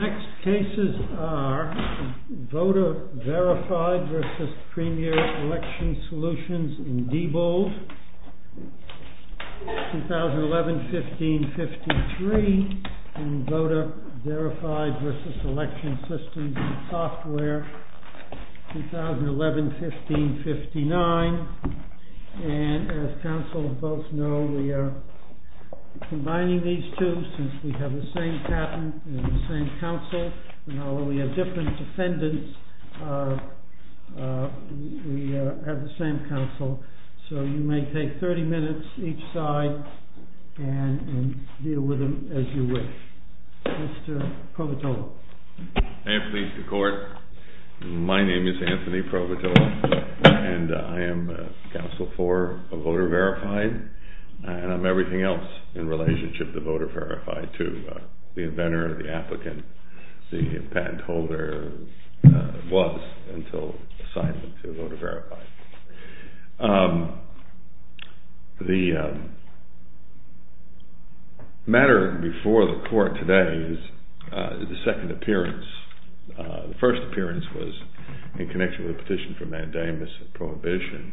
Next cases are VOTER VERIFIED v. PREMIER ELECTION SOLUTIONS in DBOLD, 2011-15-53 and VOTER VERIFIED v. ELECTION SYSTEMS and SOFTWARE, 2011-15-59 and as counsel both know we are combining these two since we have the same patent and the same counsel and although we have different defendants we have the same counsel so you may take 30 minutes each side and deal with them as you wish. Mr. Provotola. I am pleased to court. My name is Anthony Provotola and I am counsel for VOTER VERIFIED and I am everything else in relationship to VOTER VERIFIED too. The inventor, the applicant, the patent holder was until assignment to VOTER VERIFIED. The matter before the court today is the second appearance. The first appearance was in connection with the petition for mandamus and prohibition.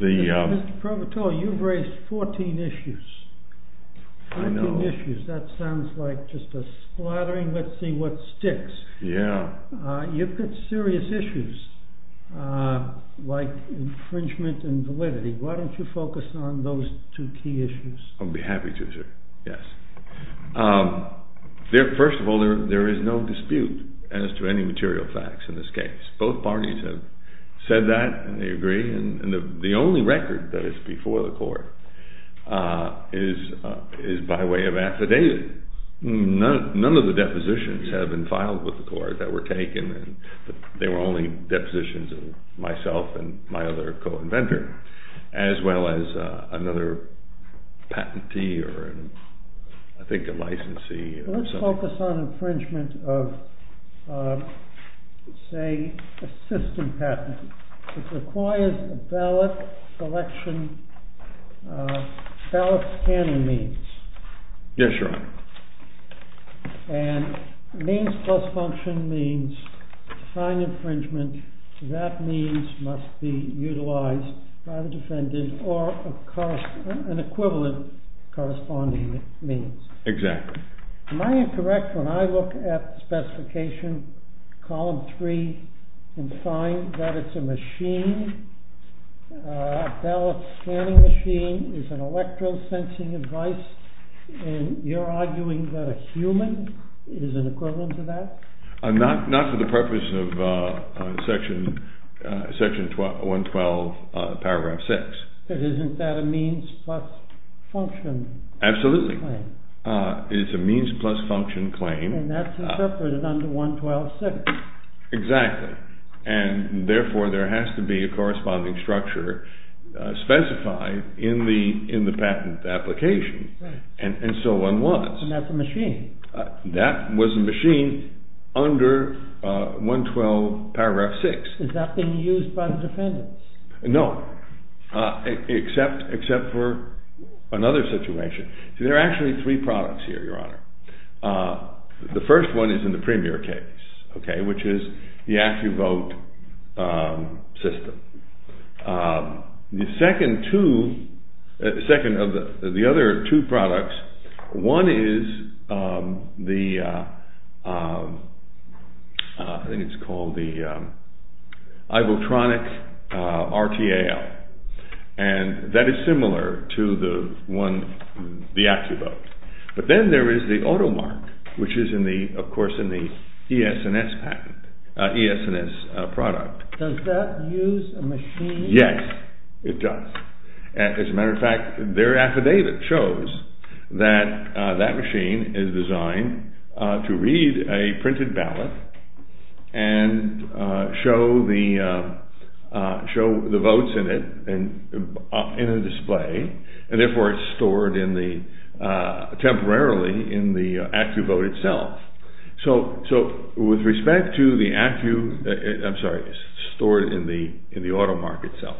Mr. Provotola, you have raised 14 issues. 14 issues, that sounds like just a splattering, let's see what sticks. You've got serious issues like infringement and validity. Why don't you focus on those two key issues? I would be happy to sir, yes. First of all there is no dispute as to any material facts in this case. Both parties have said that and they agree and the only record that is before the court is by way of affidavit. None of the depositions have been filed with the court that were taken. They were only depositions of myself and my other co-inventor as well as another patentee or I think a licensee. Let's focus on infringement of say a system patent. It requires a ballot selection, ballot scanning means. Yes your honor. And means plus function means defined infringement that means must be utilized by the defendant or an equivalent corresponding means. Exactly. Am I incorrect when I look at specification column 3 and find that it's a machine, a ballot scanning machine is an electro-sensing device and you're arguing that a human is an equivalent to that? Not to the purpose of section 112 paragraph 6. Isn't that a means plus function? Absolutely. It's a means plus function claim. And that's interpreted under 112.6. Exactly and therefore there has to be a corresponding structure specified in the patent application and so on was. And that's a machine? That was a machine under 112 paragraph 6. Is that being used by the defendants? No, except for another situation. See there are actually three products here your honor. The first one is in the premier case, okay, which is the AccuVote system. The second two, the second of the other two products, one is the, I think it's called the Ivotronic RTAL and that is similar to the one, the AccuVote. But then there is the Automark which is in the, of course in the ES&S patent, ES&S product. Does that use a machine? Yes, it does. As a matter of fact, their affidavit shows that that machine is designed to read a printed ballot and show the, show the votes in it, in a display. And therefore it's stored in the, temporarily in the AccuVote itself. So, so with respect to the Accu, I'm sorry, it's stored in the, in the Automark itself.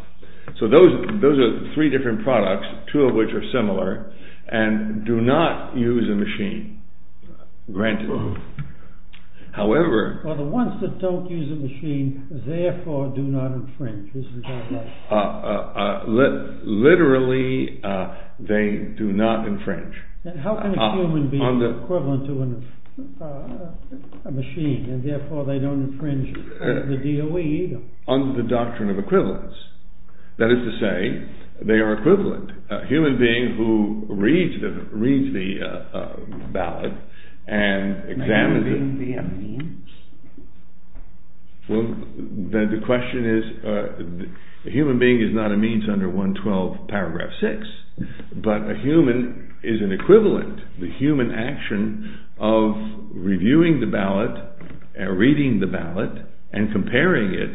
So those, those are three different products, two of which are similar and do not use a machine, granted. However… Well the ones that don't use a machine, therefore do not infringe, isn't that right? Literally they do not infringe. And how can a human be equivalent to a machine and therefore they don't infringe the DOE either? Under the doctrine of equivalence. That is to say, they are equivalent. A human being who reads the, reads the ballot and examines it… May a human being be a means? Well, the question is, a human being is not a means under 112 paragraph 6, but a human is an equivalent. The human action of reviewing the ballot, reading the ballot and comparing it,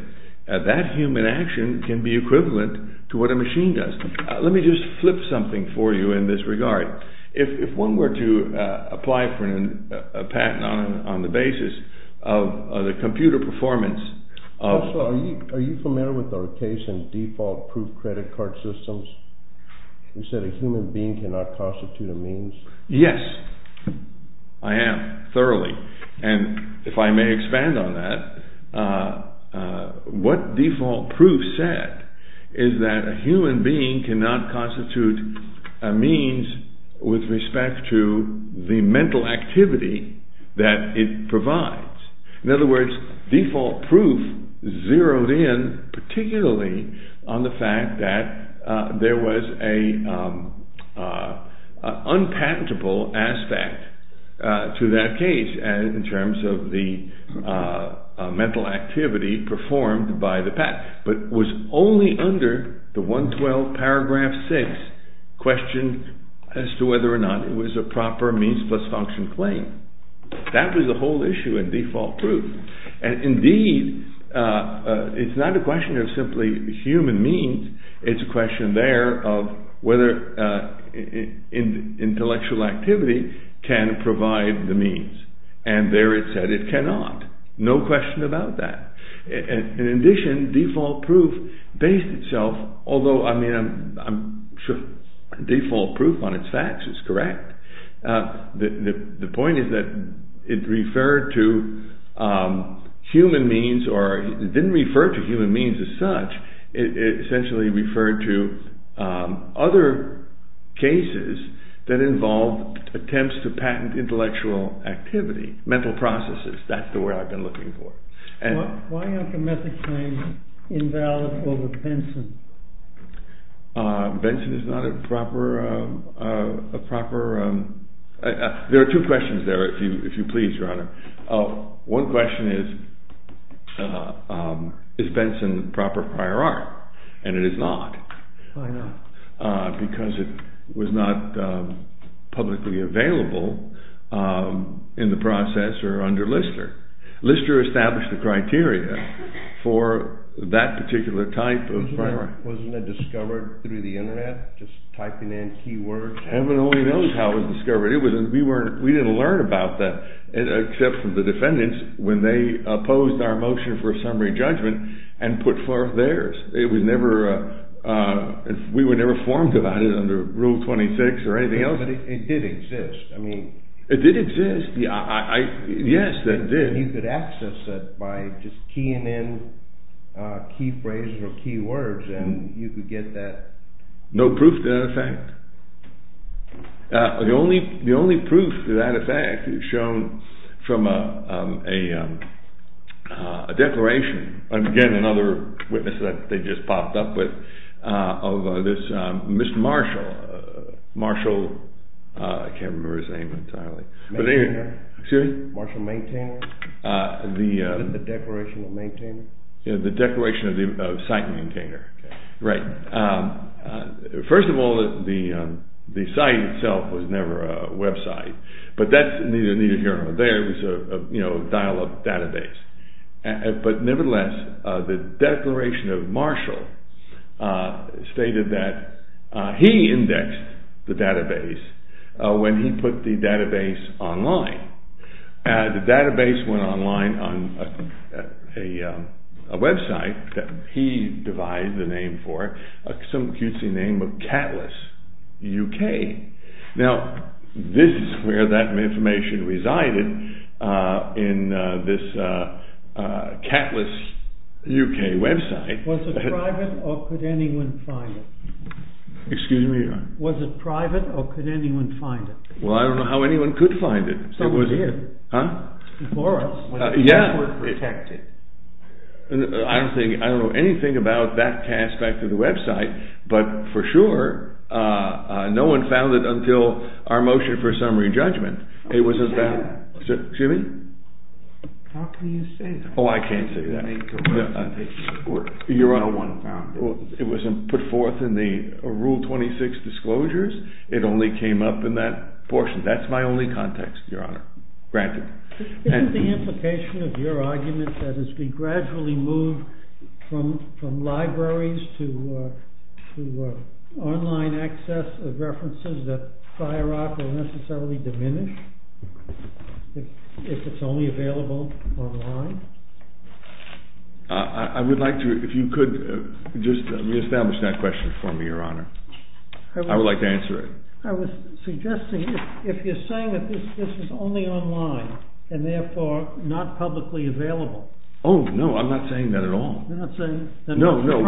that human action can be equivalent to what a machine does. Let me just flip something for you in this regard. If one were to apply for a patent on the basis of the computer performance… Professor, are you familiar with our case in default proof credit card systems? You said a human being cannot constitute a means. Yes, I am, thoroughly. And if I may expand on that, what default proof said is that a human being cannot constitute a means with respect to the mental activity that it provides. In other words, default proof zeroed in particularly on the fact that there was an unpatentable aspect to that case. In terms of the mental activity performed by the patent. But it was only under the 112 paragraph 6 question as to whether or not it was a proper means plus function claim. That was the whole issue in default proof. And indeed, it's not a question of simply human means, it's a question there of whether intellectual activity can provide the means. And there it said it cannot. No question about that. In addition, default proof based itself, although I mean, I'm sure default proof on its facts is correct. The point is that it referred to human means or didn't refer to human means as such. It essentially referred to other cases that involved attempts to patent intellectual activity, mental processes. That's the word I've been looking for. Why aren't the method claims invalid over Benson? Benson is not a proper. There are two questions there, if you please, Your Honor. One question is, is Benson proper prior art? And it is not. Why not? Because it was not publicly available in the process or under Lister. Lister established the criteria for that particular type of primary. Wasn't it discovered through the internet, just typing in keywords? Heaven only knows how it was discovered. We didn't learn about that except from the defendants when they opposed our motion for a summary judgment and put forth theirs. We were never informed about it under Rule 26 or anything else. But it did exist. It did exist. Yes, it did. You could access it by just keying in key phrases or key words and you could get that. No proof to that effect? The only proof to that effect is shown from a declaration, again another witness that they just popped up with, of this Mr. Marshall. I can't remember his name entirely. Maintainer? Excuse me? Marshall Maintainer? The Declaration of Maintainer? The Declaration of Site Maintainer. Right. First of all, the site itself was never a website. But that's neither here nor there. It was a dial-up database. But nevertheless, the Declaration of Marshall stated that he indexed the database when he put the database online. The database went online on a website that he devised the name for, some cutesy name of Catalyst UK. Now, this is where that information resided in this Catalyst UK website. Was it private or could anyone find it? Excuse me? Was it private or could anyone find it? Well, I don't know how anyone could find it. Someone did. Huh? Before us. Yeah. We were protected. I don't know anything about that aspect of the website. But for sure, no one found it until our motion for summary judgment. It wasn't found. Excuse me? How can you say that? Oh, I can't say that. No one found it. It wasn't put forth in the Rule 26 disclosures. That's my only context, Your Honor. Granted. Isn't the implication of your argument that as we gradually move from libraries to online access of references that FireRock will necessarily diminish if it's only available online? I would like to, if you could, just re-establish that question for me, Your Honor. I would like to answer it. I was suggesting if you're saying that this is only online and therefore not publicly available. Oh, no. I'm not saying that at all. You're not saying… No, no.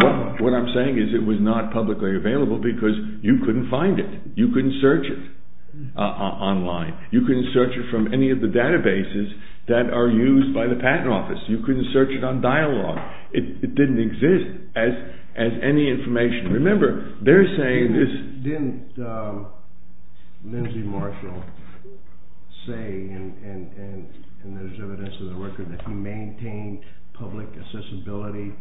What I'm saying is it was not publicly available because you couldn't find it. You couldn't search it online. You couldn't search it from any of the databases that are used by the Patent Office. You couldn't search it on Dialog. It didn't exist as any information. Remember, they're saying this… Didn't Lindsay Marshall say, and there's evidence in the record, that he maintained public accessibility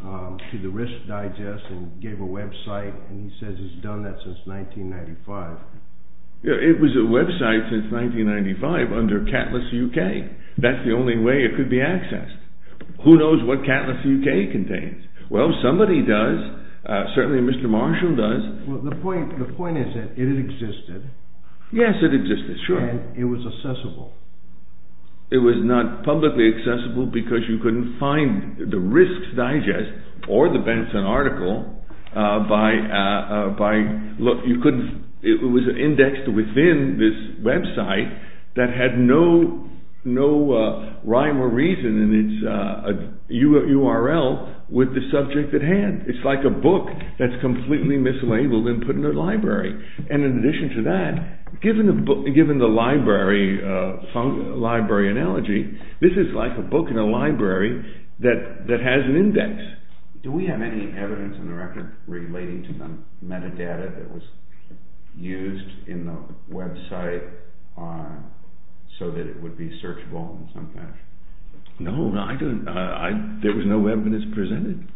to the Risk Digest and gave a website, and he says he's done that since 1995. It was a website since 1995 under Catalyst UK. That's the only way it could be accessed. Who knows what Catalyst UK contains? Well, somebody does. Certainly, Mr. Marshall does. The point is that it existed. Yes, it existed, sure. And it was accessible. It was not publicly accessible because you couldn't find the Risk Digest or the Benson article by… Look, it was indexed within this website that had no rhyme or reason in its URL with the subject at hand. It's like a book that's completely mislabeled and put in a library. And in addition to that, given the library analogy, this is like a book in a library that has an index. Do we have any evidence in the record relating to the metadata that was used in the website so that it would be searchable in some fashion? No, there was no evidence presented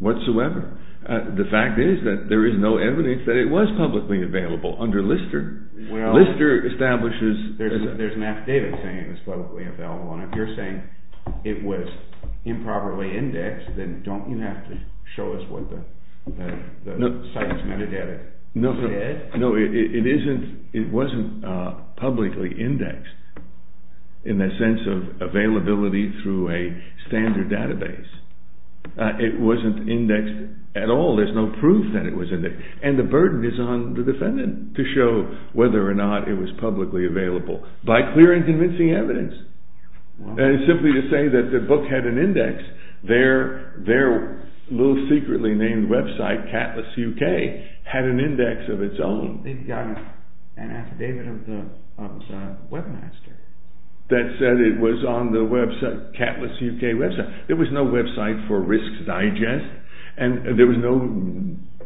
whatsoever. The fact is that there is no evidence that it was publicly available under Lister. Lister establishes… There's an affidavit saying it was publicly available, and if you're saying it was improperly indexed, then don't you have to show us what the site's metadata said? No, it wasn't publicly indexed in the sense of availability through a standard database. It wasn't indexed at all. There's no proof that it was indexed. And the burden is on the defendant to show whether or not it was publicly available by clearing convincing evidence. And simply to say that the book had an index, their little secretly named website, Catalyst UK, had an index of its own. They've got an affidavit of the webmaster. That said it was on the website, Catalyst UK website. There was no website for Risks Digest, and there was no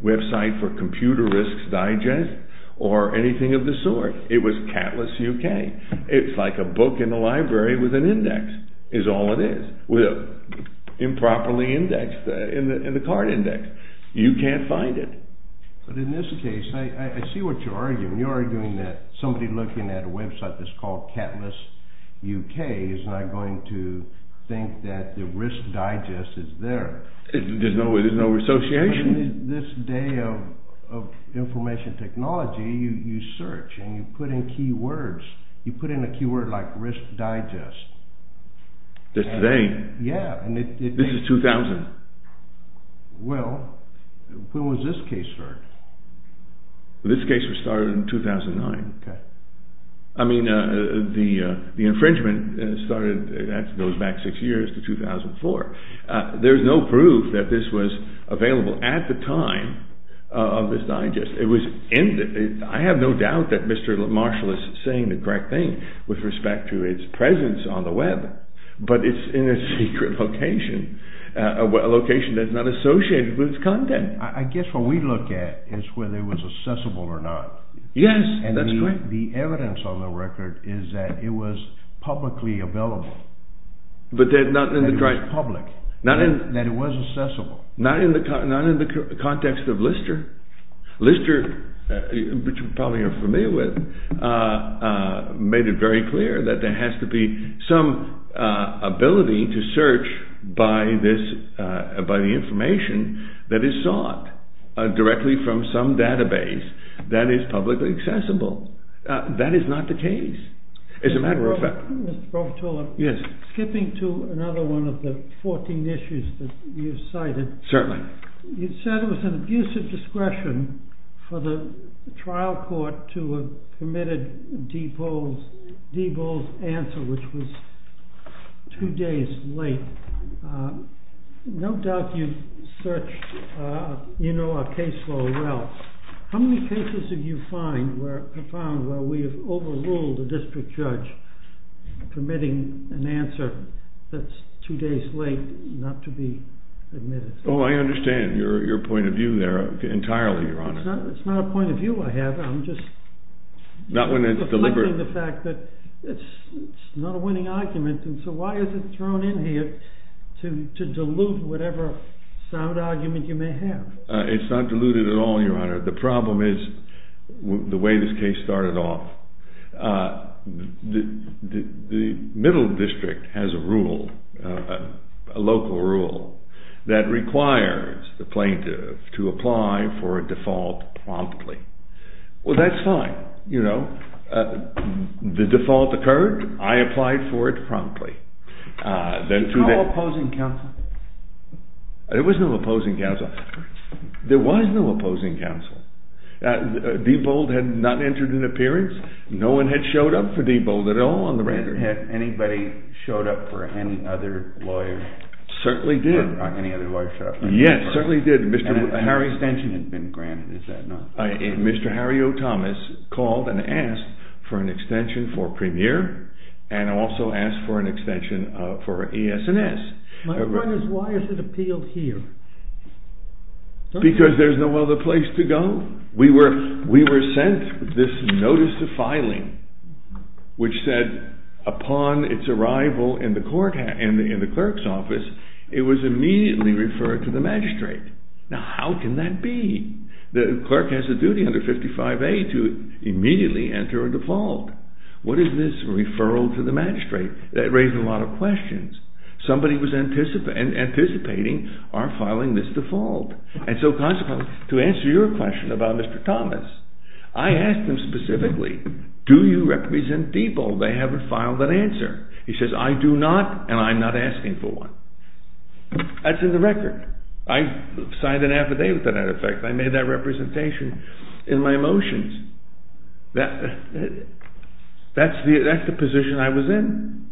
website for Computer Risks Digest, or anything of the sort. It was Catalyst UK. It's like a book in the library with an index, is all it is, improperly indexed in the card index. You can't find it. But in this case, I see what you're arguing. You're arguing that somebody looking at a website that's called Catalyst UK is not going to think that the Risk Digest is there. There's no association. In this day of information technology, you search and you put in keywords. You put in a keyword like Risk Digest. Just today? Yeah. This is 2000. Well, when was this case heard? This case was started in 2009. Okay. I mean, the infringement goes back six years to 2004. There's no proof that this was available at the time of this digest. I have no doubt that Mr. Marshall is saying the correct thing with respect to its presence on the web, but it's in a secret location, a location that's not associated with its content. I guess what we look at is whether it was accessible or not. Yes, that's correct. And the evidence on the record is that it was publicly available. That it was public. That it was accessible. Not in the context of Lister. Lister, which you probably are familiar with, made it very clear that there has to be some ability to search by the information that is sought directly from some database that is publicly accessible. That is not the case. It's a matter of fact. Mr. Profitola. Yes. Skipping to another one of the 14 issues that you've cited. Certainly. You said it was an abusive discretion for the trial court to have committed Diebold's answer, which was two days late. No doubt you've searched, you know our case law well. How many cases have you found where we have overruled a district judge permitting an answer that's two days late not to be admitted? Oh, I understand your point of view there entirely, Your Honor. It's not a point of view I have. I'm just reflecting the fact that it's not a winning argument, and so why is it thrown in here to dilute whatever sound argument you may have? It's not diluted at all, Your Honor. The problem is the way this case started off. The middle district has a rule, a local rule, that requires the plaintiff to apply for a default promptly. Well, that's fine, you know. The default occurred. I applied for it promptly. Did you call opposing counsel? There was no opposing counsel. There was no opposing counsel. Diebold had not entered an appearance. No one had showed up for Diebold at all on the render. Had anybody showed up for any other lawyer? Certainly did. Any other lawyer showed up? Yes, certainly did. And a higher extension had been granted, is that not? Mr. Harry O. Thomas called and asked for an extension for Premier and also asked for an extension for ES&S. My point is, why is it appealed here? Because there's no other place to go. We were sent this notice of filing which said, upon its arrival in the clerk's office, it was immediately referred to the magistrate. Now, how can that be? The clerk has a duty under 55A to immediately enter a default. What is this referral to the magistrate? That raised a lot of questions. Somebody was anticipating our filing this default. And so consequently, to answer your question about Mr. Thomas, I asked him specifically, do you represent Diebold? They haven't filed an answer. He says, I do not, and I'm not asking for one. That's in the record. I signed an affidavit that, in effect, I made that representation in my motions. That's the position I was in.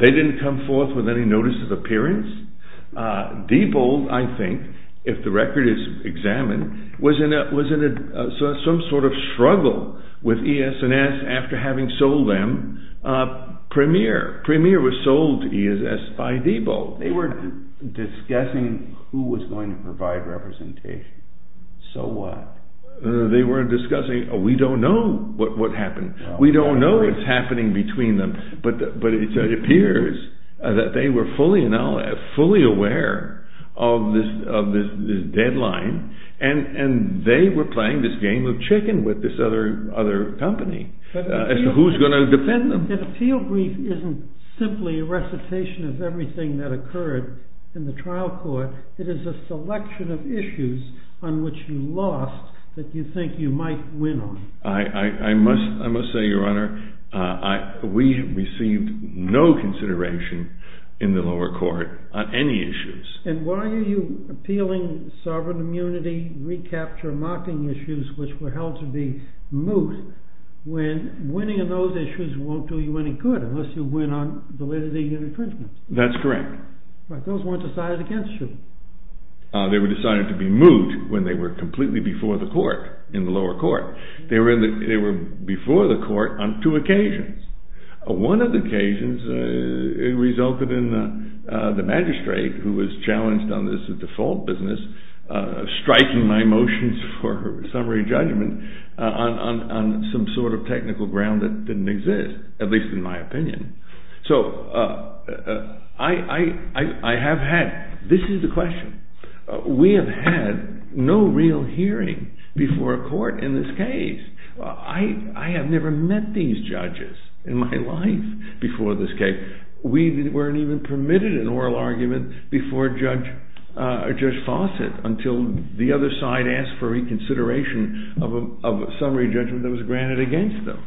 They didn't come forth with any notice of appearance. Diebold, I think, if the record is examined, was in some sort of struggle with ES&S after having sold them Premier. Premier was sold to ES&S by Diebold. They were discussing who was going to provide representation. So what? They were discussing, we don't know what happened. We don't know what's happening between them. But it appears that they were fully aware of this deadline, and they were playing this game of chicken with this other company as to who's going to defend them. But an appeal brief isn't simply a recitation of everything that occurred in the trial court. It is a selection of issues on which you lost that you think you might win on. I must say, Your Honor, we received no consideration in the lower court on any issues. And why are you appealing sovereign immunity, recapture, mocking issues, which were held to be moot, when winning on those issues won't do you any good unless you win on validity and infringement? That's correct. But those weren't decided against you. They were decided to be moot when they were completely before the court in the lower court. They were before the court on two occasions. One of the occasions resulted in the magistrate, who was challenged on this default business, striking my motions for summary judgment on some sort of technical ground that didn't exist, at least in my opinion. So this is the question. We have had no real hearing before a court in this case. I have never met these judges in my life before this case. We weren't even permitted an oral argument before Judge Fawcett until the other side asked for reconsideration of a summary judgment that was granted against them.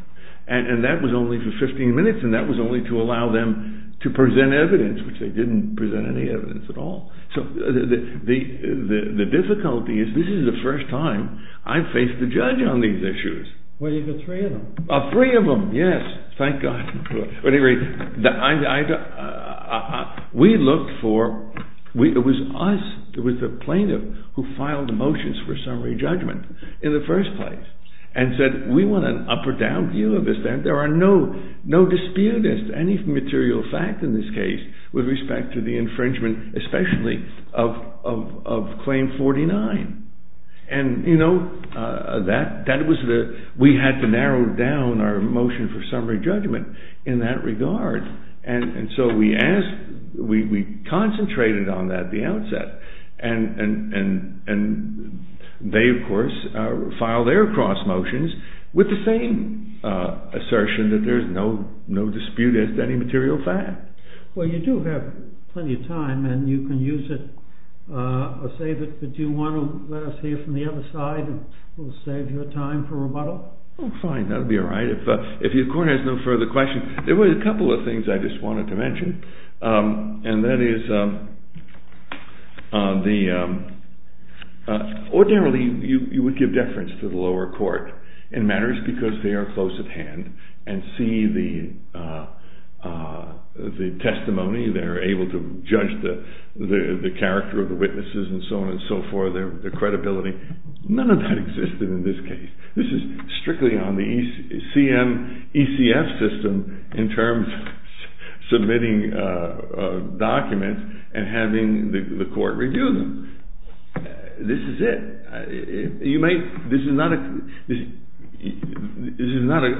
And that was only for 15 minutes, and that was only to allow them to present evidence, which they didn't present any evidence at all. So the difficulty is this is the first time I've faced a judge on these issues. Well, you've had three of them. Three of them, yes. Thank God. At any rate, we looked for – it was us, it was the plaintiff who filed the motions for summary judgment in the first place and said we want an up or down view of this. There are no disputants, any material fact in this case with respect to the infringement, especially of Claim 49. And that was the – we had to narrow down our motion for summary judgment in that regard. And so we asked – we concentrated on that at the outset. And they, of course, filed their cross motions with the same assertion that there's no dispute as to any material fact. Well, you do have plenty of time, and you can use it or save it. But do you want to let us hear from the other side and we'll save your time for rebuttal? Oh, fine. That would be all right. If your court has no further questions, there were a couple of things I just wanted to mention. And that is the – ordinarily you would give deference to the lower court in matters because they are close at hand and see the testimony. They're able to judge the character of the witnesses and so on and so forth, their credibility. None of that existed in this case. This is strictly on the CMECF system in terms of submitting documents and having the court review them. This is it. You might – this is not a – this is not a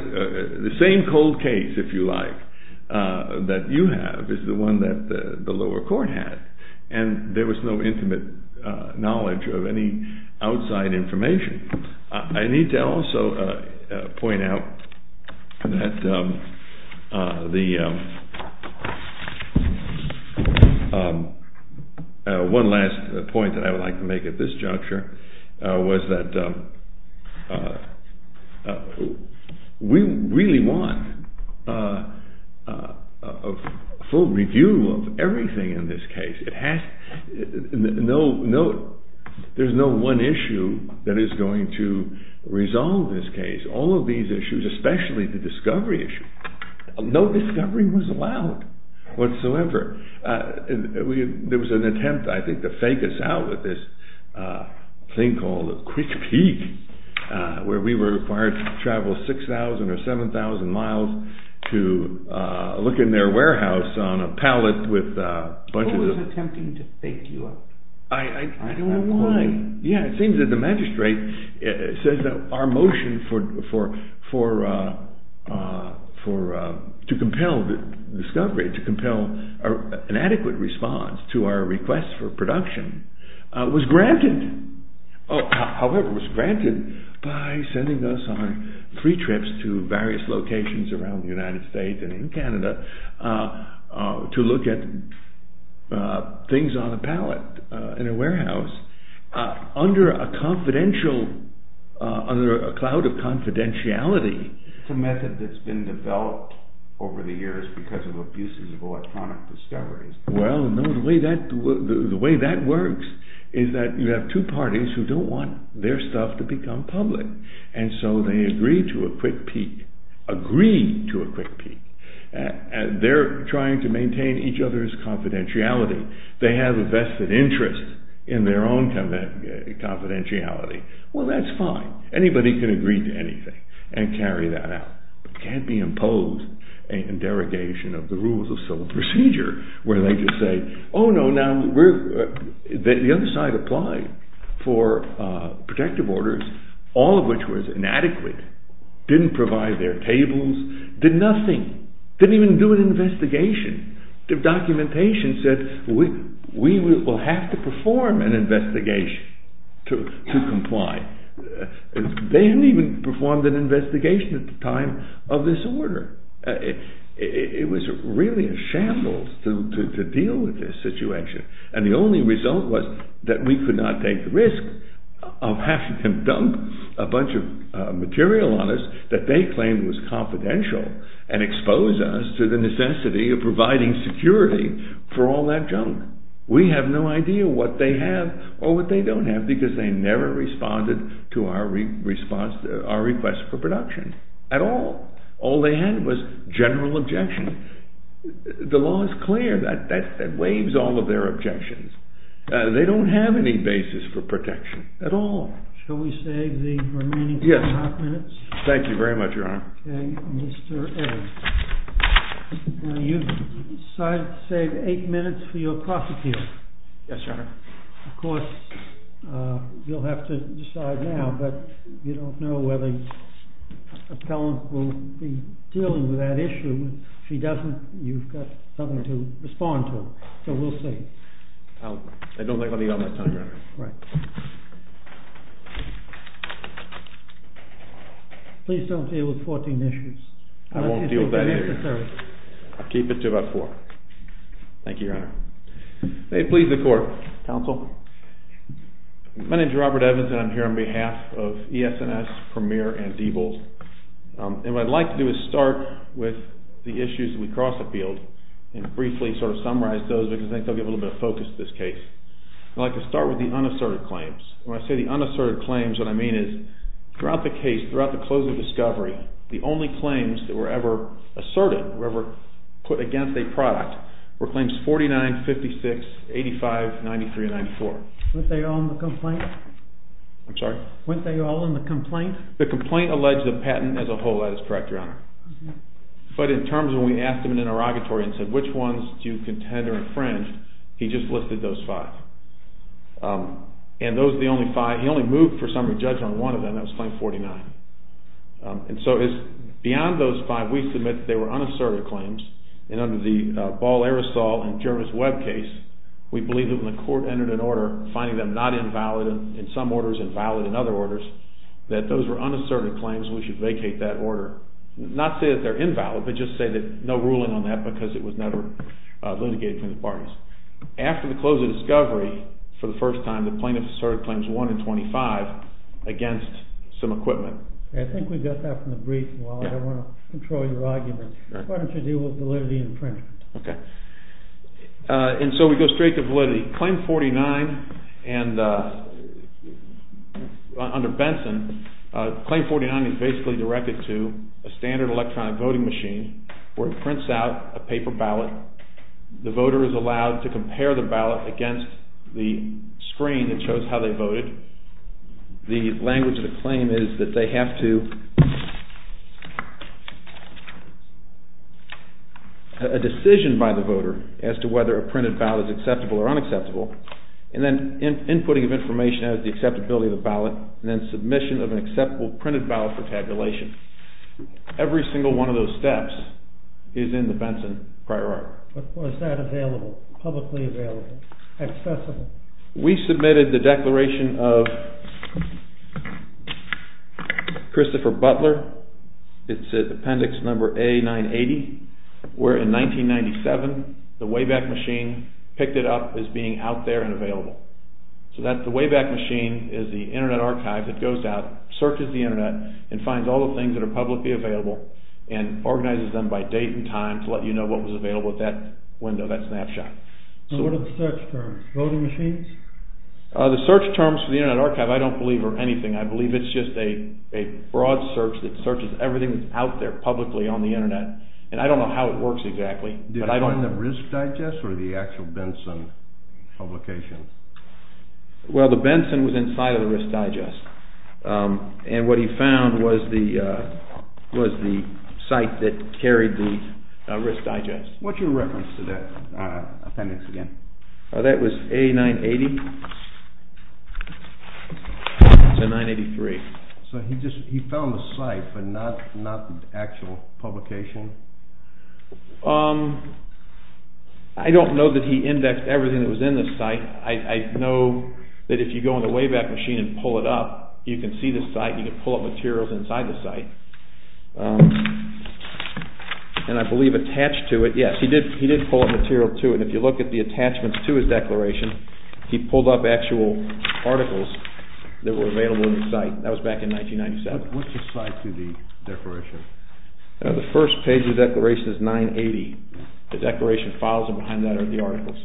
– the same cold case, if you like, that you have is the one that the lower court had. And there was no intimate knowledge of any outside information. I need to also point out that the – one last point that I would like to make at this juncture was that we really want a full review of everything in this case. It has – no – there's no one issue that is going to resolve this case. All of these issues, especially the discovery issue, no discovery was allowed whatsoever. There was an attempt, I think, to fake us out with this thing called a quick peek where we were required to travel 6,000 or 7,000 miles to look in their warehouse on a pallet with a bunch of – I don't know why. Yeah, it seems that the magistrate says that our motion for – to compel the discovery, to compel an adequate response to our request for production was granted. However, it was granted by sending us on free trips to various locations around the United States and in Canada to look at things on a pallet in a warehouse under a confidential – under a cloud of confidentiality. It's a method that's been developed over the years because of abuses of electronic discoveries. Well, no, the way that works is that you have two parties who don't want their stuff to become public, and so they agree to a quick peek – agree to a quick peek. They're trying to maintain each other's confidentiality. They have a vested interest in their own confidentiality. Well, that's fine. Anybody can agree to anything and carry that out. It can't be imposed in derogation of the rules of civil procedure where they just say, oh, no, now we're – the other side applied for protective orders, all of which was inadequate, didn't provide their tables, did nothing, didn't even do an investigation. The documentation said we will have to perform an investigation to comply. They didn't even perform an investigation at the time of this order. It was really a shambles to deal with this situation, and the only result was that we could not take the risk of having them dump a bunch of material on us that they claimed was confidential and expose us to the necessity of providing security for all that junk. We have no idea what they have or what they don't have because they never responded to our request for production at all. All they had was general objection. The law is clear. That waives all of their objections. They don't have any basis for protection at all. Shall we save the remaining five minutes? Yes. Thank you very much, Your Honor. Okay, Mr. Evans. Now, you've decided to save eight minutes for your prosecution. Yes, Your Honor. Of course, you'll have to decide now, but you don't know whether an appellant will be dealing with that issue. If she doesn't, you've got something to respond to, so we'll see. I don't think I'll be out much time, Your Honor. Right. Please don't deal with 14 issues. I won't deal with that either. I'll keep it to about four. Thank you, Your Honor. May it please the Court. Counsel. My name is Robert Evans, and I'm here on behalf of ES&S, Premier, and Diebold. And what I'd like to do is start with the issues that we cross-appealed and briefly sort of summarize those because I think they'll get a little bit of focus in this case. I'd like to start with the unasserted claim. When I say the unasserted claims, what I mean is throughout the case, throughout the closing discovery, the only claims that were ever asserted or ever put against a product were claims 49, 56, 85, 93, and 94. Weren't they all in the complaint? I'm sorry? Weren't they all in the complaint? The complaint alleged a patent as a whole. That is correct, Your Honor. But in terms of when we asked him in interrogatory and said, which ones do you contend are infringed, he just listed those five. And those are the only five. He only moved for summary judgment on one of them. That was claim 49. And so it's beyond those five. We submit that they were unasserted claims. And under the Ball, Arisal, and Jervis Webb case, we believe that when the Court entered an order finding them not invalid in some orders, invalid in other orders, that those were unasserted claims and we should vacate that order. Not say that they're invalid, but just say that no ruling on that because it was never litigated from the parties. After the close of discovery, for the first time, the plaintiff asserted claims 1 and 25 against some equipment. I think we got that from the brief. I want to control your argument. Why don't you deal with validity and infringement? Okay. And so we go straight to validity. Claim 49 and under Benson, claim 49 is basically directed to a standard electronic voting machine where it prints out a paper ballot. The voter is allowed to compare the ballot against the screen that shows how they voted. The language of the claim is that they have to, a decision by the voter as to whether a printed ballot is acceptable or unacceptable, and then inputting of information as the acceptability of the ballot, and then submission of an acceptable printed ballot for tabulation. Every single one of those steps is in the Benson Prior Art. Was that available, publicly available, accessible? We submitted the declaration of Christopher Butler. It's at appendix number A980, where in 1997, the Wayback Machine picked it up as being out there and available. So the Wayback Machine is the Internet Archive that goes out, searches the Internet, and finds all the things that are publicly available, and organizes them by date and time to let you know what was available at that window, that snapshot. So what are the search terms? Voting machines? The search terms for the Internet Archive I don't believe are anything. I believe it's just a broad search that searches everything that's out there publicly on the Internet, and I don't know how it works exactly. Did it find the Risk Digest or the actual Benson publication? Well, the Benson was inside of the Risk Digest, and what he found was the site that carried the Risk Digest. What's your reference to that appendix again? That was A980 to 983. So he found the site, but not the actual publication? I don't know that he indexed everything that was in the site. I know that if you go in the Wayback Machine and pull it up, you can see the site. You can pull up materials inside the site, and I believe attached to it. Yes, he did pull up material to it, and if you look at the attachments to his declaration, he pulled up actual articles that were available in the site. That was back in 1997. What's the size of the declaration? The first page of the declaration is 980. The declaration files behind that are the articles.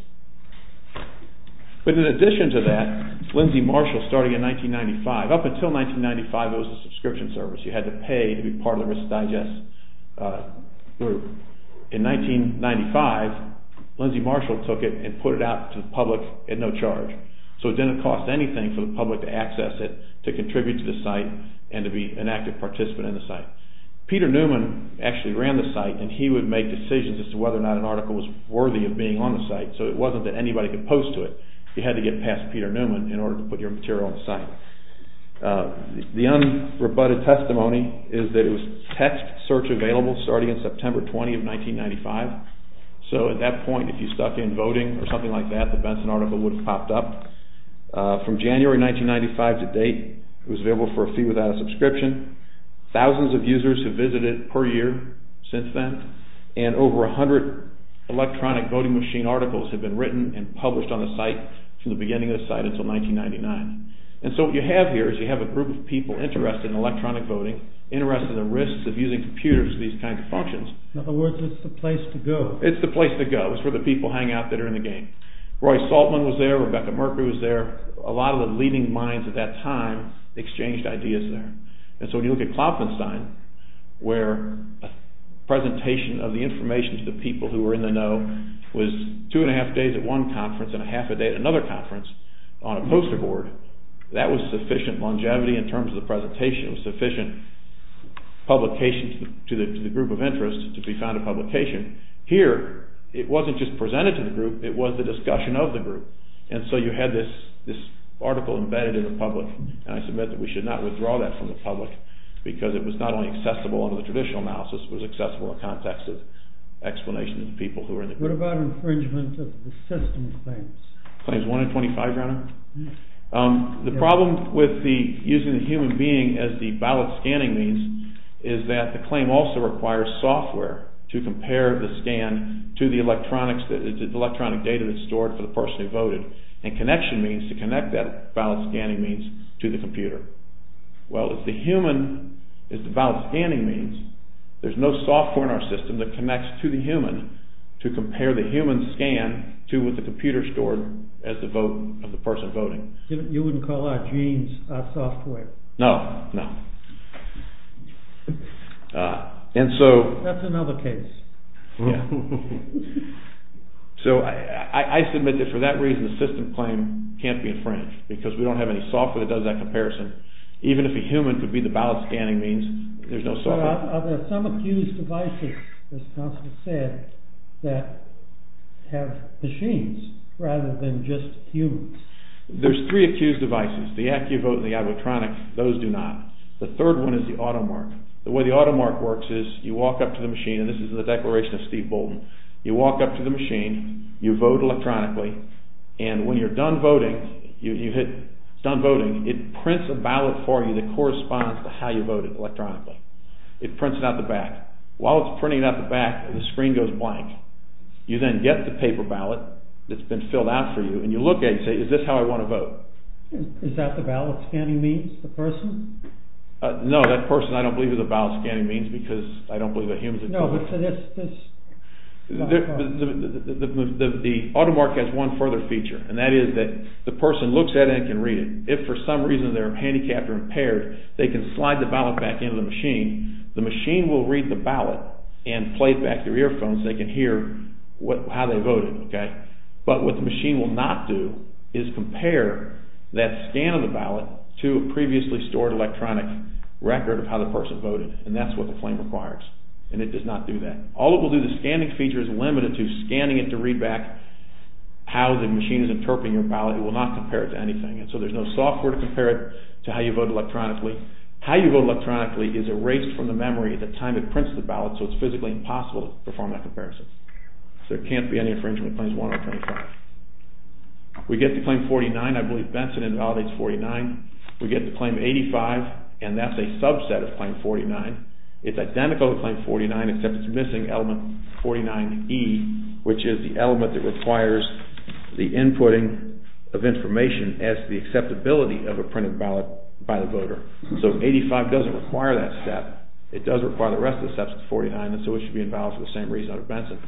But in addition to that, Lindsay Marshall, starting in 1995, up until 1995 it was a subscription service. You had to pay to be part of the Risk Digest group. In 1995, Lindsay Marshall took it and put it out to the public at no charge. So it didn't cost anything for the public to access it, to contribute to the site, and to be an active participant in the site. Peter Newman actually ran the site, and he would make decisions as to whether or not an article was worthy of being on the site. So it wasn't that anybody could post to it. You had to get past Peter Newman in order to put your material on the site. The unrebutted testimony is that it was text search available starting on September 20 of 1995. So at that point, if you stuck in voting or something like that, the Benson article would have popped up. From January 1995 to date, it was available for a fee without a subscription. Thousands of users have visited it per year since then, and over 100 electronic voting machine articles have been written and published on the site from the beginning of the site until 1999. And so what you have here is you have a group of people interested in electronic voting, interested in the risks of using computers for these kinds of functions. In other words, it's the place to go. It's the place to go. It's where the people hang out that are in the game. Roy Saltman was there. Rebecca Merker was there. A lot of the leading minds at that time exchanged ideas there. And so when you look at Klopfenstein, where a presentation of the information to the people who were in the know was two and a half days at one conference and a half a day at another conference on a poster board, that was sufficient longevity in terms of the presentation. It was sufficient publication to the group of interest to be found a publication. Here, it wasn't just presented to the group. It was the discussion of the group. And so you had this article embedded in the public, and I submit that we should not withdraw that from the public because it was not only accessible under the traditional analysis, it was accessible in the context of explanation to the people who were in the group. What about infringement of the system claims? Claims 1 and 25, Your Honor? The problem with using the human being as the ballot scanning means is that the claim also requires software to compare the scan to the electronic data that's stored for the person who voted, and connection means to connect that ballot scanning means to the computer. Well, if the human is the ballot scanning means, there's no software in our system that connects to the human to compare the human scan to what the computer stored as the vote of the person voting. You wouldn't call our genes our software? No, no. And so... That's another case. So I submit that for that reason, the system claim can't be infringed because we don't have any software that does that comparison. Even if a human could be the ballot scanning means, there's no software. Are there some accused devices, as counsel said, that have machines rather than just humans? There's three accused devices. The AccuVote and the iVotronic, those do not. The third one is the AutoMark. The way the AutoMark works is you walk up to the machine, and this is in the Declaration of Steve Bolton, you walk up to the machine, you vote electronically, and when you're done voting, you hit Done Voting, it prints a ballot for you that corresponds to how you voted electronically. It prints it out the back. While it's printing it out the back, the screen goes blank. You then get the paper ballot that's been filled out for you, and you look at it and say, is this how I want to vote? Is that the ballot scanning means, the person? No, that person I don't believe is a ballot scanning means because I don't believe a human is a human. No, but so this... The AutoMark has one further feature, and that is that the person looks at it and can read it. If for some reason they're handicapped or impaired, they can slide the ballot back into the machine. The machine will read the ballot and play it back through earphones so they can hear how they voted. But what the machine will not do is compare that scan of the ballot to a previously stored electronic record of how the person voted, and that's what the claim requires, and it does not do that. All it will do, the scanning feature is limited to scanning it to read back how the machine is interpreting your ballot. It will not compare it to anything, and so there's no software to compare it to how you vote electronically. How you vote electronically is erased from the memory at the time it prints the ballot, so it's physically impossible to perform that comparison. So there can't be any infringement of Claims 125. We get to Claim 49. I believe Benson invalidates 49. We get to Claim 85, and that's a subset of Claim 49. It's identical to Claim 49, except it's missing element 49E, which is the element that requires the inputting of information as to the acceptability of a printed ballot by the voter. So 85 doesn't require that step. It does require the rest of the steps of 49, and so it should be invalid for the same reason under Benson.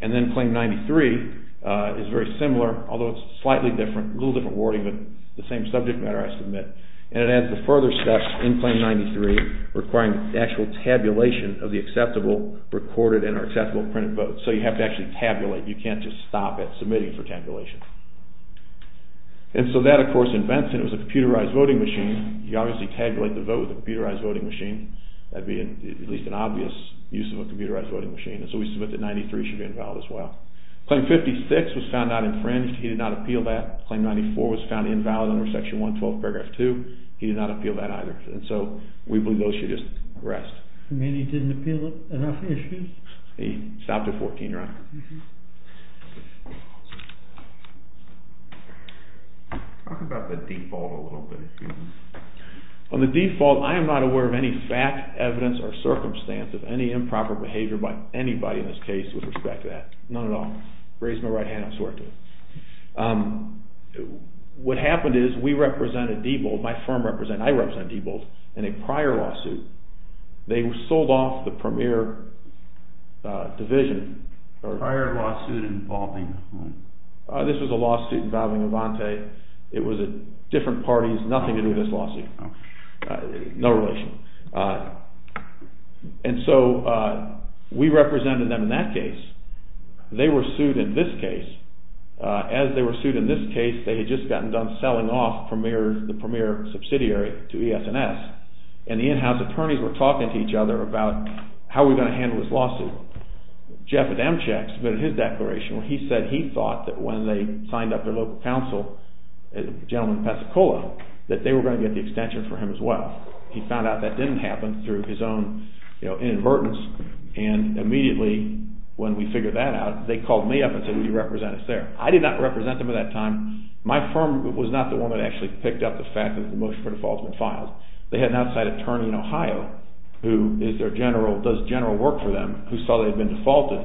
And then Claim 93 is very similar, although it's slightly different, a little different wording, but the same subject matter, I submit. And it adds the further steps in Claim 93, requiring actual tabulation of the acceptable recorded and accessible printed votes. So you have to actually tabulate. You can't just stop at submitting for tabulation. And so that, of course, in Benson, it was a computerized voting machine. You obviously tabulate the vote with a computerized voting machine. That would be at least an obvious use of a computerized voting machine, and so we submit that 93 should be invalid as well. Claim 56 was found not infringed. He did not appeal that. Claim 94 was found invalid under Section 112, Paragraph 2. He did not appeal that either, and so we believe those should just rest. You mean he didn't appeal enough issues? He stopped at 14, right? Talk about the default a little bit, if you will. On the default, I am not aware of any fact, evidence, or circumstance of any improper behavior by anybody in this case with respect to that. None at all. Raise my right hand, I swear to it. What happened is we represented Diebold, my firm represented, I represented Diebold in a prior lawsuit. They sold off the premier division. Prior lawsuit involving? This was a lawsuit involving Avante. It was at different parties, nothing to do with this lawsuit. No relation. And so we represented them in that case. They were sued in this case. As they were sued in this case, they had just gotten done selling off the premier subsidiary to ES&S, and the in-house attorneys were talking to each other about how we were going to handle this lawsuit. Jeff at Amcheck submitted his declaration where he said he thought that when they signed up their local council, a gentleman from Pensacola, that they were going to get the extension for him as well. He found out that didn't happen through his own inadvertence, and immediately when we figured that out, they called me up and said, will you represent us there? I did not represent them at that time. My firm was not the one that actually picked up the fact that the motion for default has been filed. They had an outside attorney in Ohio who is their general, does general work for them, who saw they had been defaulted,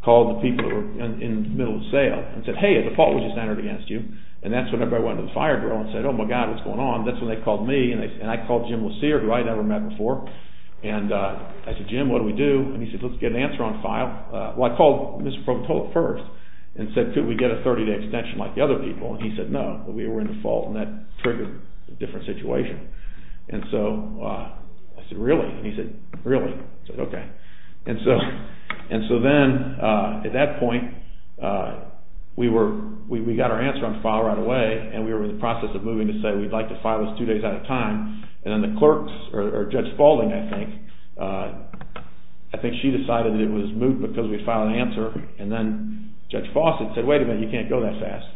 called the people who were in the middle of the sale and said, hey, a default was just entered against you, and that's when everybody went to the fire drill and said, oh my God, what's going on? That's when they called me, and I called Jim LeSire, who I had never met before, and I said, Jim, what do we do? And he said, let's get an answer on file. Well, I called Mr. Provatola first and said, could we get a 30-day extension like the other people? And he said no, but we were in default, and that triggered a different situation. And so I said, really? And he said, really. I said, okay. And so then at that point, we were, we got our answer on file right away, and we were in the process of moving to say we'd like to file this two days at a time, and then the clerks, or Judge Falding, I think, I think she decided that it was moot because we'd filed an answer, and then Judge Fawcett said, wait a minute, you can't go that fast.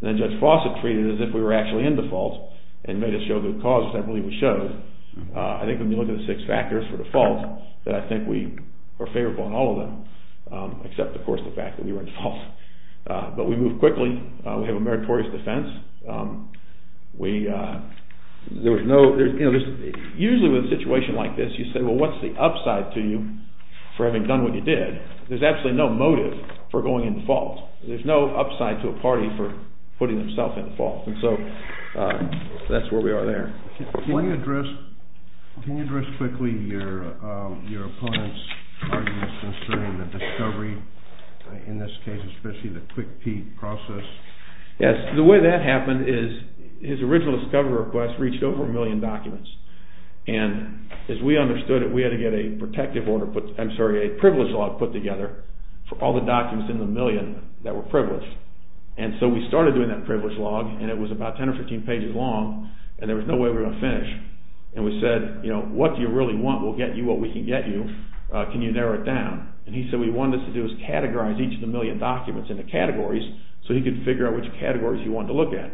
And then Judge Fawcett treated it as if we were actually in default and made us show good cause, which I believe we showed. I think when you look at the six factors for default, that I think we were favorable in all of them, except, of course, the fact that we were in default. But we moved quickly. We have a meritorious defense. We, there was no, you know, usually with a situation like this, you say, well, what's the upside to you for having done what you did? There's absolutely no motive for going in default. There's no upside to a party for putting themselves in default. And so that's where we are there. Can you address quickly your opponent's arguments concerning the discovery, in this case, especially the quick pee process? Yes. The way that happened is his original discovery request reached over a million documents. And as we understood it, we had to get a protective order, I'm sorry, a privilege log put together for all the documents in the million that were privileged. And so we started doing that privilege log, and it was about 10 or 15 pages long, and there was no way we were going to finish. And we said, you know, what do you really want? We'll get you what we can get you. Can you narrow it down? And he said what he wanted us to do was categorize each of the million documents into categories so he could figure out which categories he wanted to look at.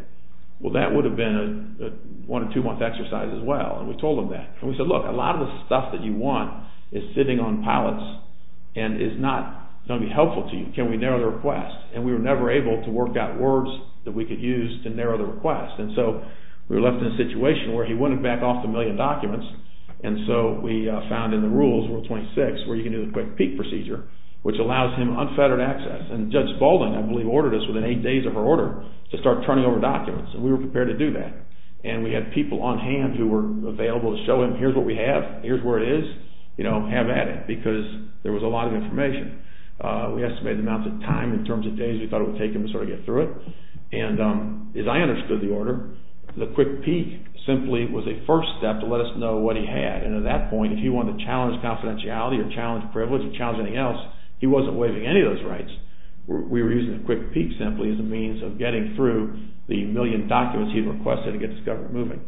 Well, that would have been a one- or two-month exercise as well, and we told him that. And we said, look, a lot of the stuff that you want is sitting on pallets and is not going to be helpful to you. Can we narrow the request? And we were never able to work out words that we could use to narrow the request. And so we were left in a situation where he wanted to back off the million documents, and so we found in the rules, Rule 26, where you can do the quick pee procedure, which allows him unfettered access. And Judge Baldwin, I believe, ordered us within eight days of her order to start turning over documents, and we were prepared to do that. And we had people on hand who were available to show him, here's what we have, here's where it is, you know, have at it, because there was a lot of information. We estimated the amount of time in terms of days we thought it would take him to sort of get through it. And as I understood the order, the quick pee simply was a first step to let us know what he had. And at that point, if he wanted to challenge confidentiality or challenge privilege or challenge anything else, he wasn't waiving any of those rights. We were using the quick pee simply as a means of getting through the million documents he had requested to get this government moving.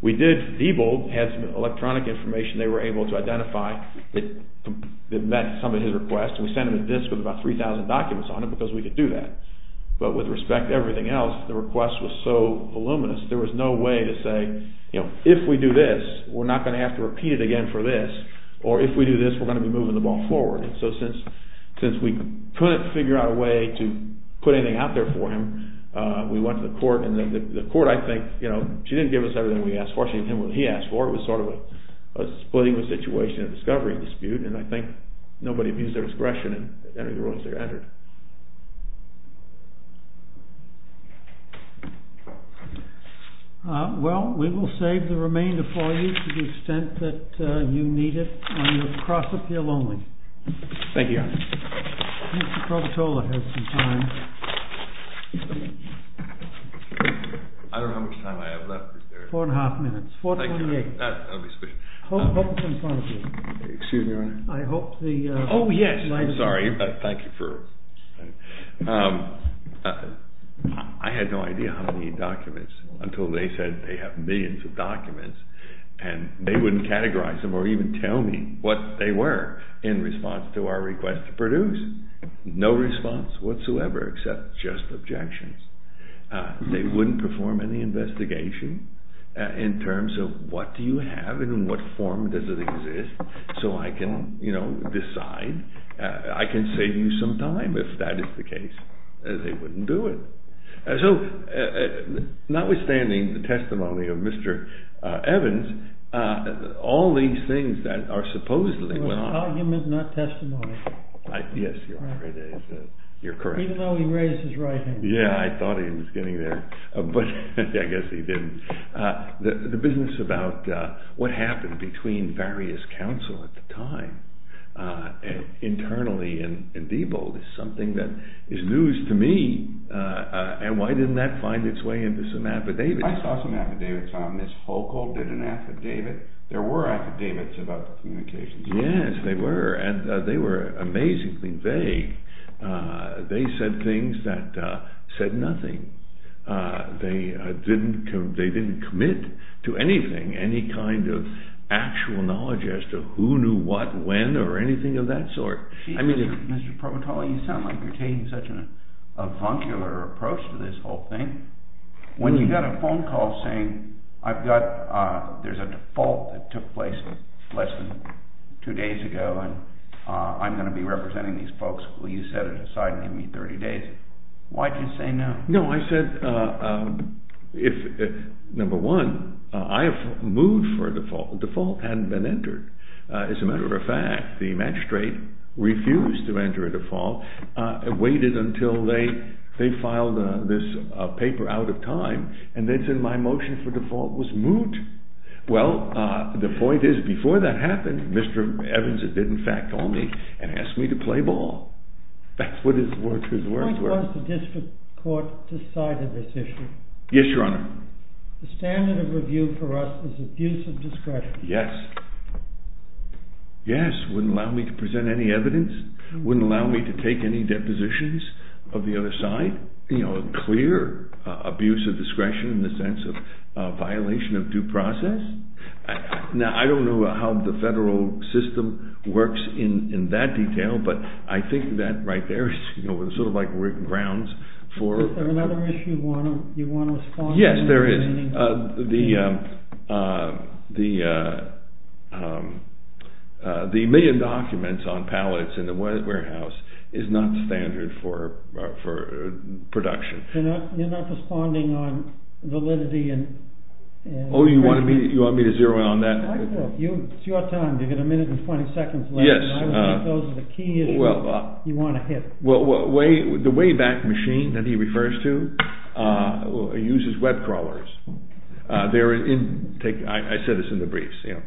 We did, Diebold had some electronic information they were able to identify that met some of his requests, and we sent him a disk with about 3,000 documents on it because we could do that. But with respect to everything else, the request was so voluminous, there was no way to say, you know, if we do this, we're not going to have to repeat it again for this, or if we do this, we're going to be moving the ball forward. So since we couldn't figure out a way to put anything out there for him, we went to the court, and the court, I think, you know, she didn't give us everything we asked for. She didn't give him what he asked for. It was sort of a splitting the situation, a discovery dispute, and I think nobody abused their discretion and entered the rulings they entered. Well, we will save the remainder for you to the extent that you need it, on your cross-appeal only. Thank you, Your Honor. Mr. Probatola has some time. I don't know how much time I have left. Four and a half minutes. 428. That'll be sufficient. Excuse me, Your Honor. Oh, yes, I'm sorry. Thank you for... I had no idea how many documents, until they said they have millions of documents, and they wouldn't categorize them or even tell me what they were in response to our request to produce. No response whatsoever, except just objections. They wouldn't perform any investigation in terms of what do you have and in what form does it exist, so I can, you know, decide. I can save you some time, if that is the case. They wouldn't do it. So, notwithstanding the testimony of Mr. Evans, all these things that are supposedly... It was argument, not testimony. Yes, Your Honor, you're correct. Even though he raised his right hand. Yeah, I thought he was getting there, but I guess he didn't. The business about what happened between various counsel at the time, internally in Diebold, is something that is news to me, and why didn't that find its way into some affidavits? I saw some affidavits on this. Foucault did an affidavit. There were affidavits about communications. Yes, they were, and they were amazingly vague. They said things that said nothing. They didn't commit to anything, any kind of actual knowledge as to who knew what, when, or anything of that sort. I mean, Mr. Provotoli, you sound like you're taking such a vuncular approach to this whole thing. When you got a phone call saying, there's a default that took place less than two days ago, and I'm going to be representing these folks, will you set it aside and give me 30 days? Why did you say no? No, I said, number one, I have moved for a default. A default hadn't been entered. As a matter of fact, the magistrate refused to enter a default, waited until they filed this paper out of time, and then said my motion for default was moot. Well, the point is, before that happened, Mr. Evans did in fact call me and ask me to play ball. That's what his words were. Why was the district court decided this issue? Yes, Your Honor. The standard of review for us is abuse of discretion. Yes. Yes, wouldn't allow me to present any evidence, wouldn't allow me to take any depositions of the other side. You know, clear abuse of discretion in the sense of violation of due process. Now, I don't know how the federal system works in that detail, but I think that right there is sort of like working grounds for... Is there another issue you want to respond to? Yes, there is. The million documents on pallets in the warehouse is not standard for production. You're not responding on validity and... Oh, you want me to zero in on that? It's your time. You've got a minute and 20 seconds left. I would think those are the key issues you want to hit. Well, the Wayback Machine that he refers to uses web crawlers. I said this in the briefs. In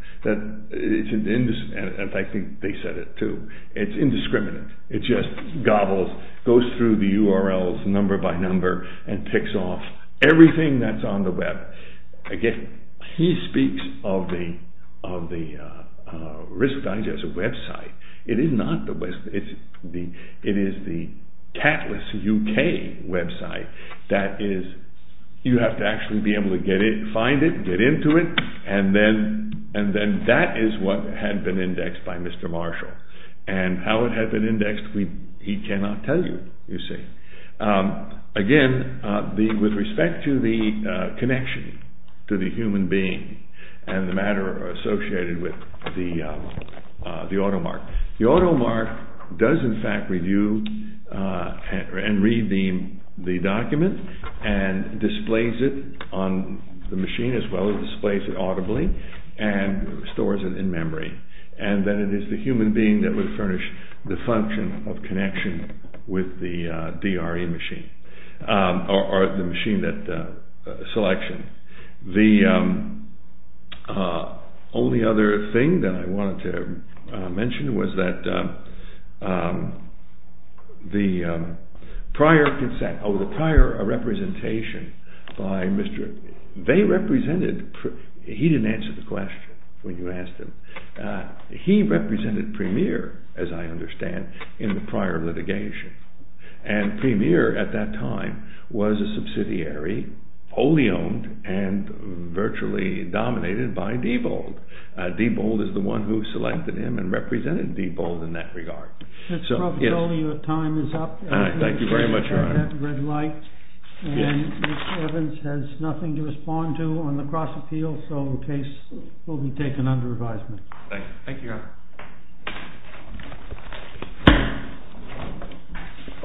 fact, I think they said it too. It's indiscriminate. It just gobbles, goes through the URLs number by number and ticks off everything that's on the web. Again, he speaks of the Risk Digest website. It is not the website. It is the Catalyst UK website that you have to actually be able to find it, and get into it, and then that is what had been indexed by Mr. Marshall. And how it had been indexed, he cannot tell you, you see. Again, with respect to the connection to the human being and the matter associated with the automark. The automark does, in fact, review and read the document and displays it on the machine as well. It displays it audibly and stores it in memory. And then it is the human being that would furnish the function of connection with the DRE machine or the machine that selection. The only other thing that I wanted to mention was that the prior consent or the prior representation by Mr... They represented... He didn't answer the question when you asked him. He represented Premier, as I understand, in the prior litigation. And Premier, at that time, was a subsidiary wholly owned and virtually dominated by Diebold. Diebold is the one who selected him and represented Diebold in that regard. Your time is up. Thank you very much, Your Honor. And Mr. Evans has nothing to respond to on the cross-appeal, so the case will be taken under advisement. Thank you, Your Honor.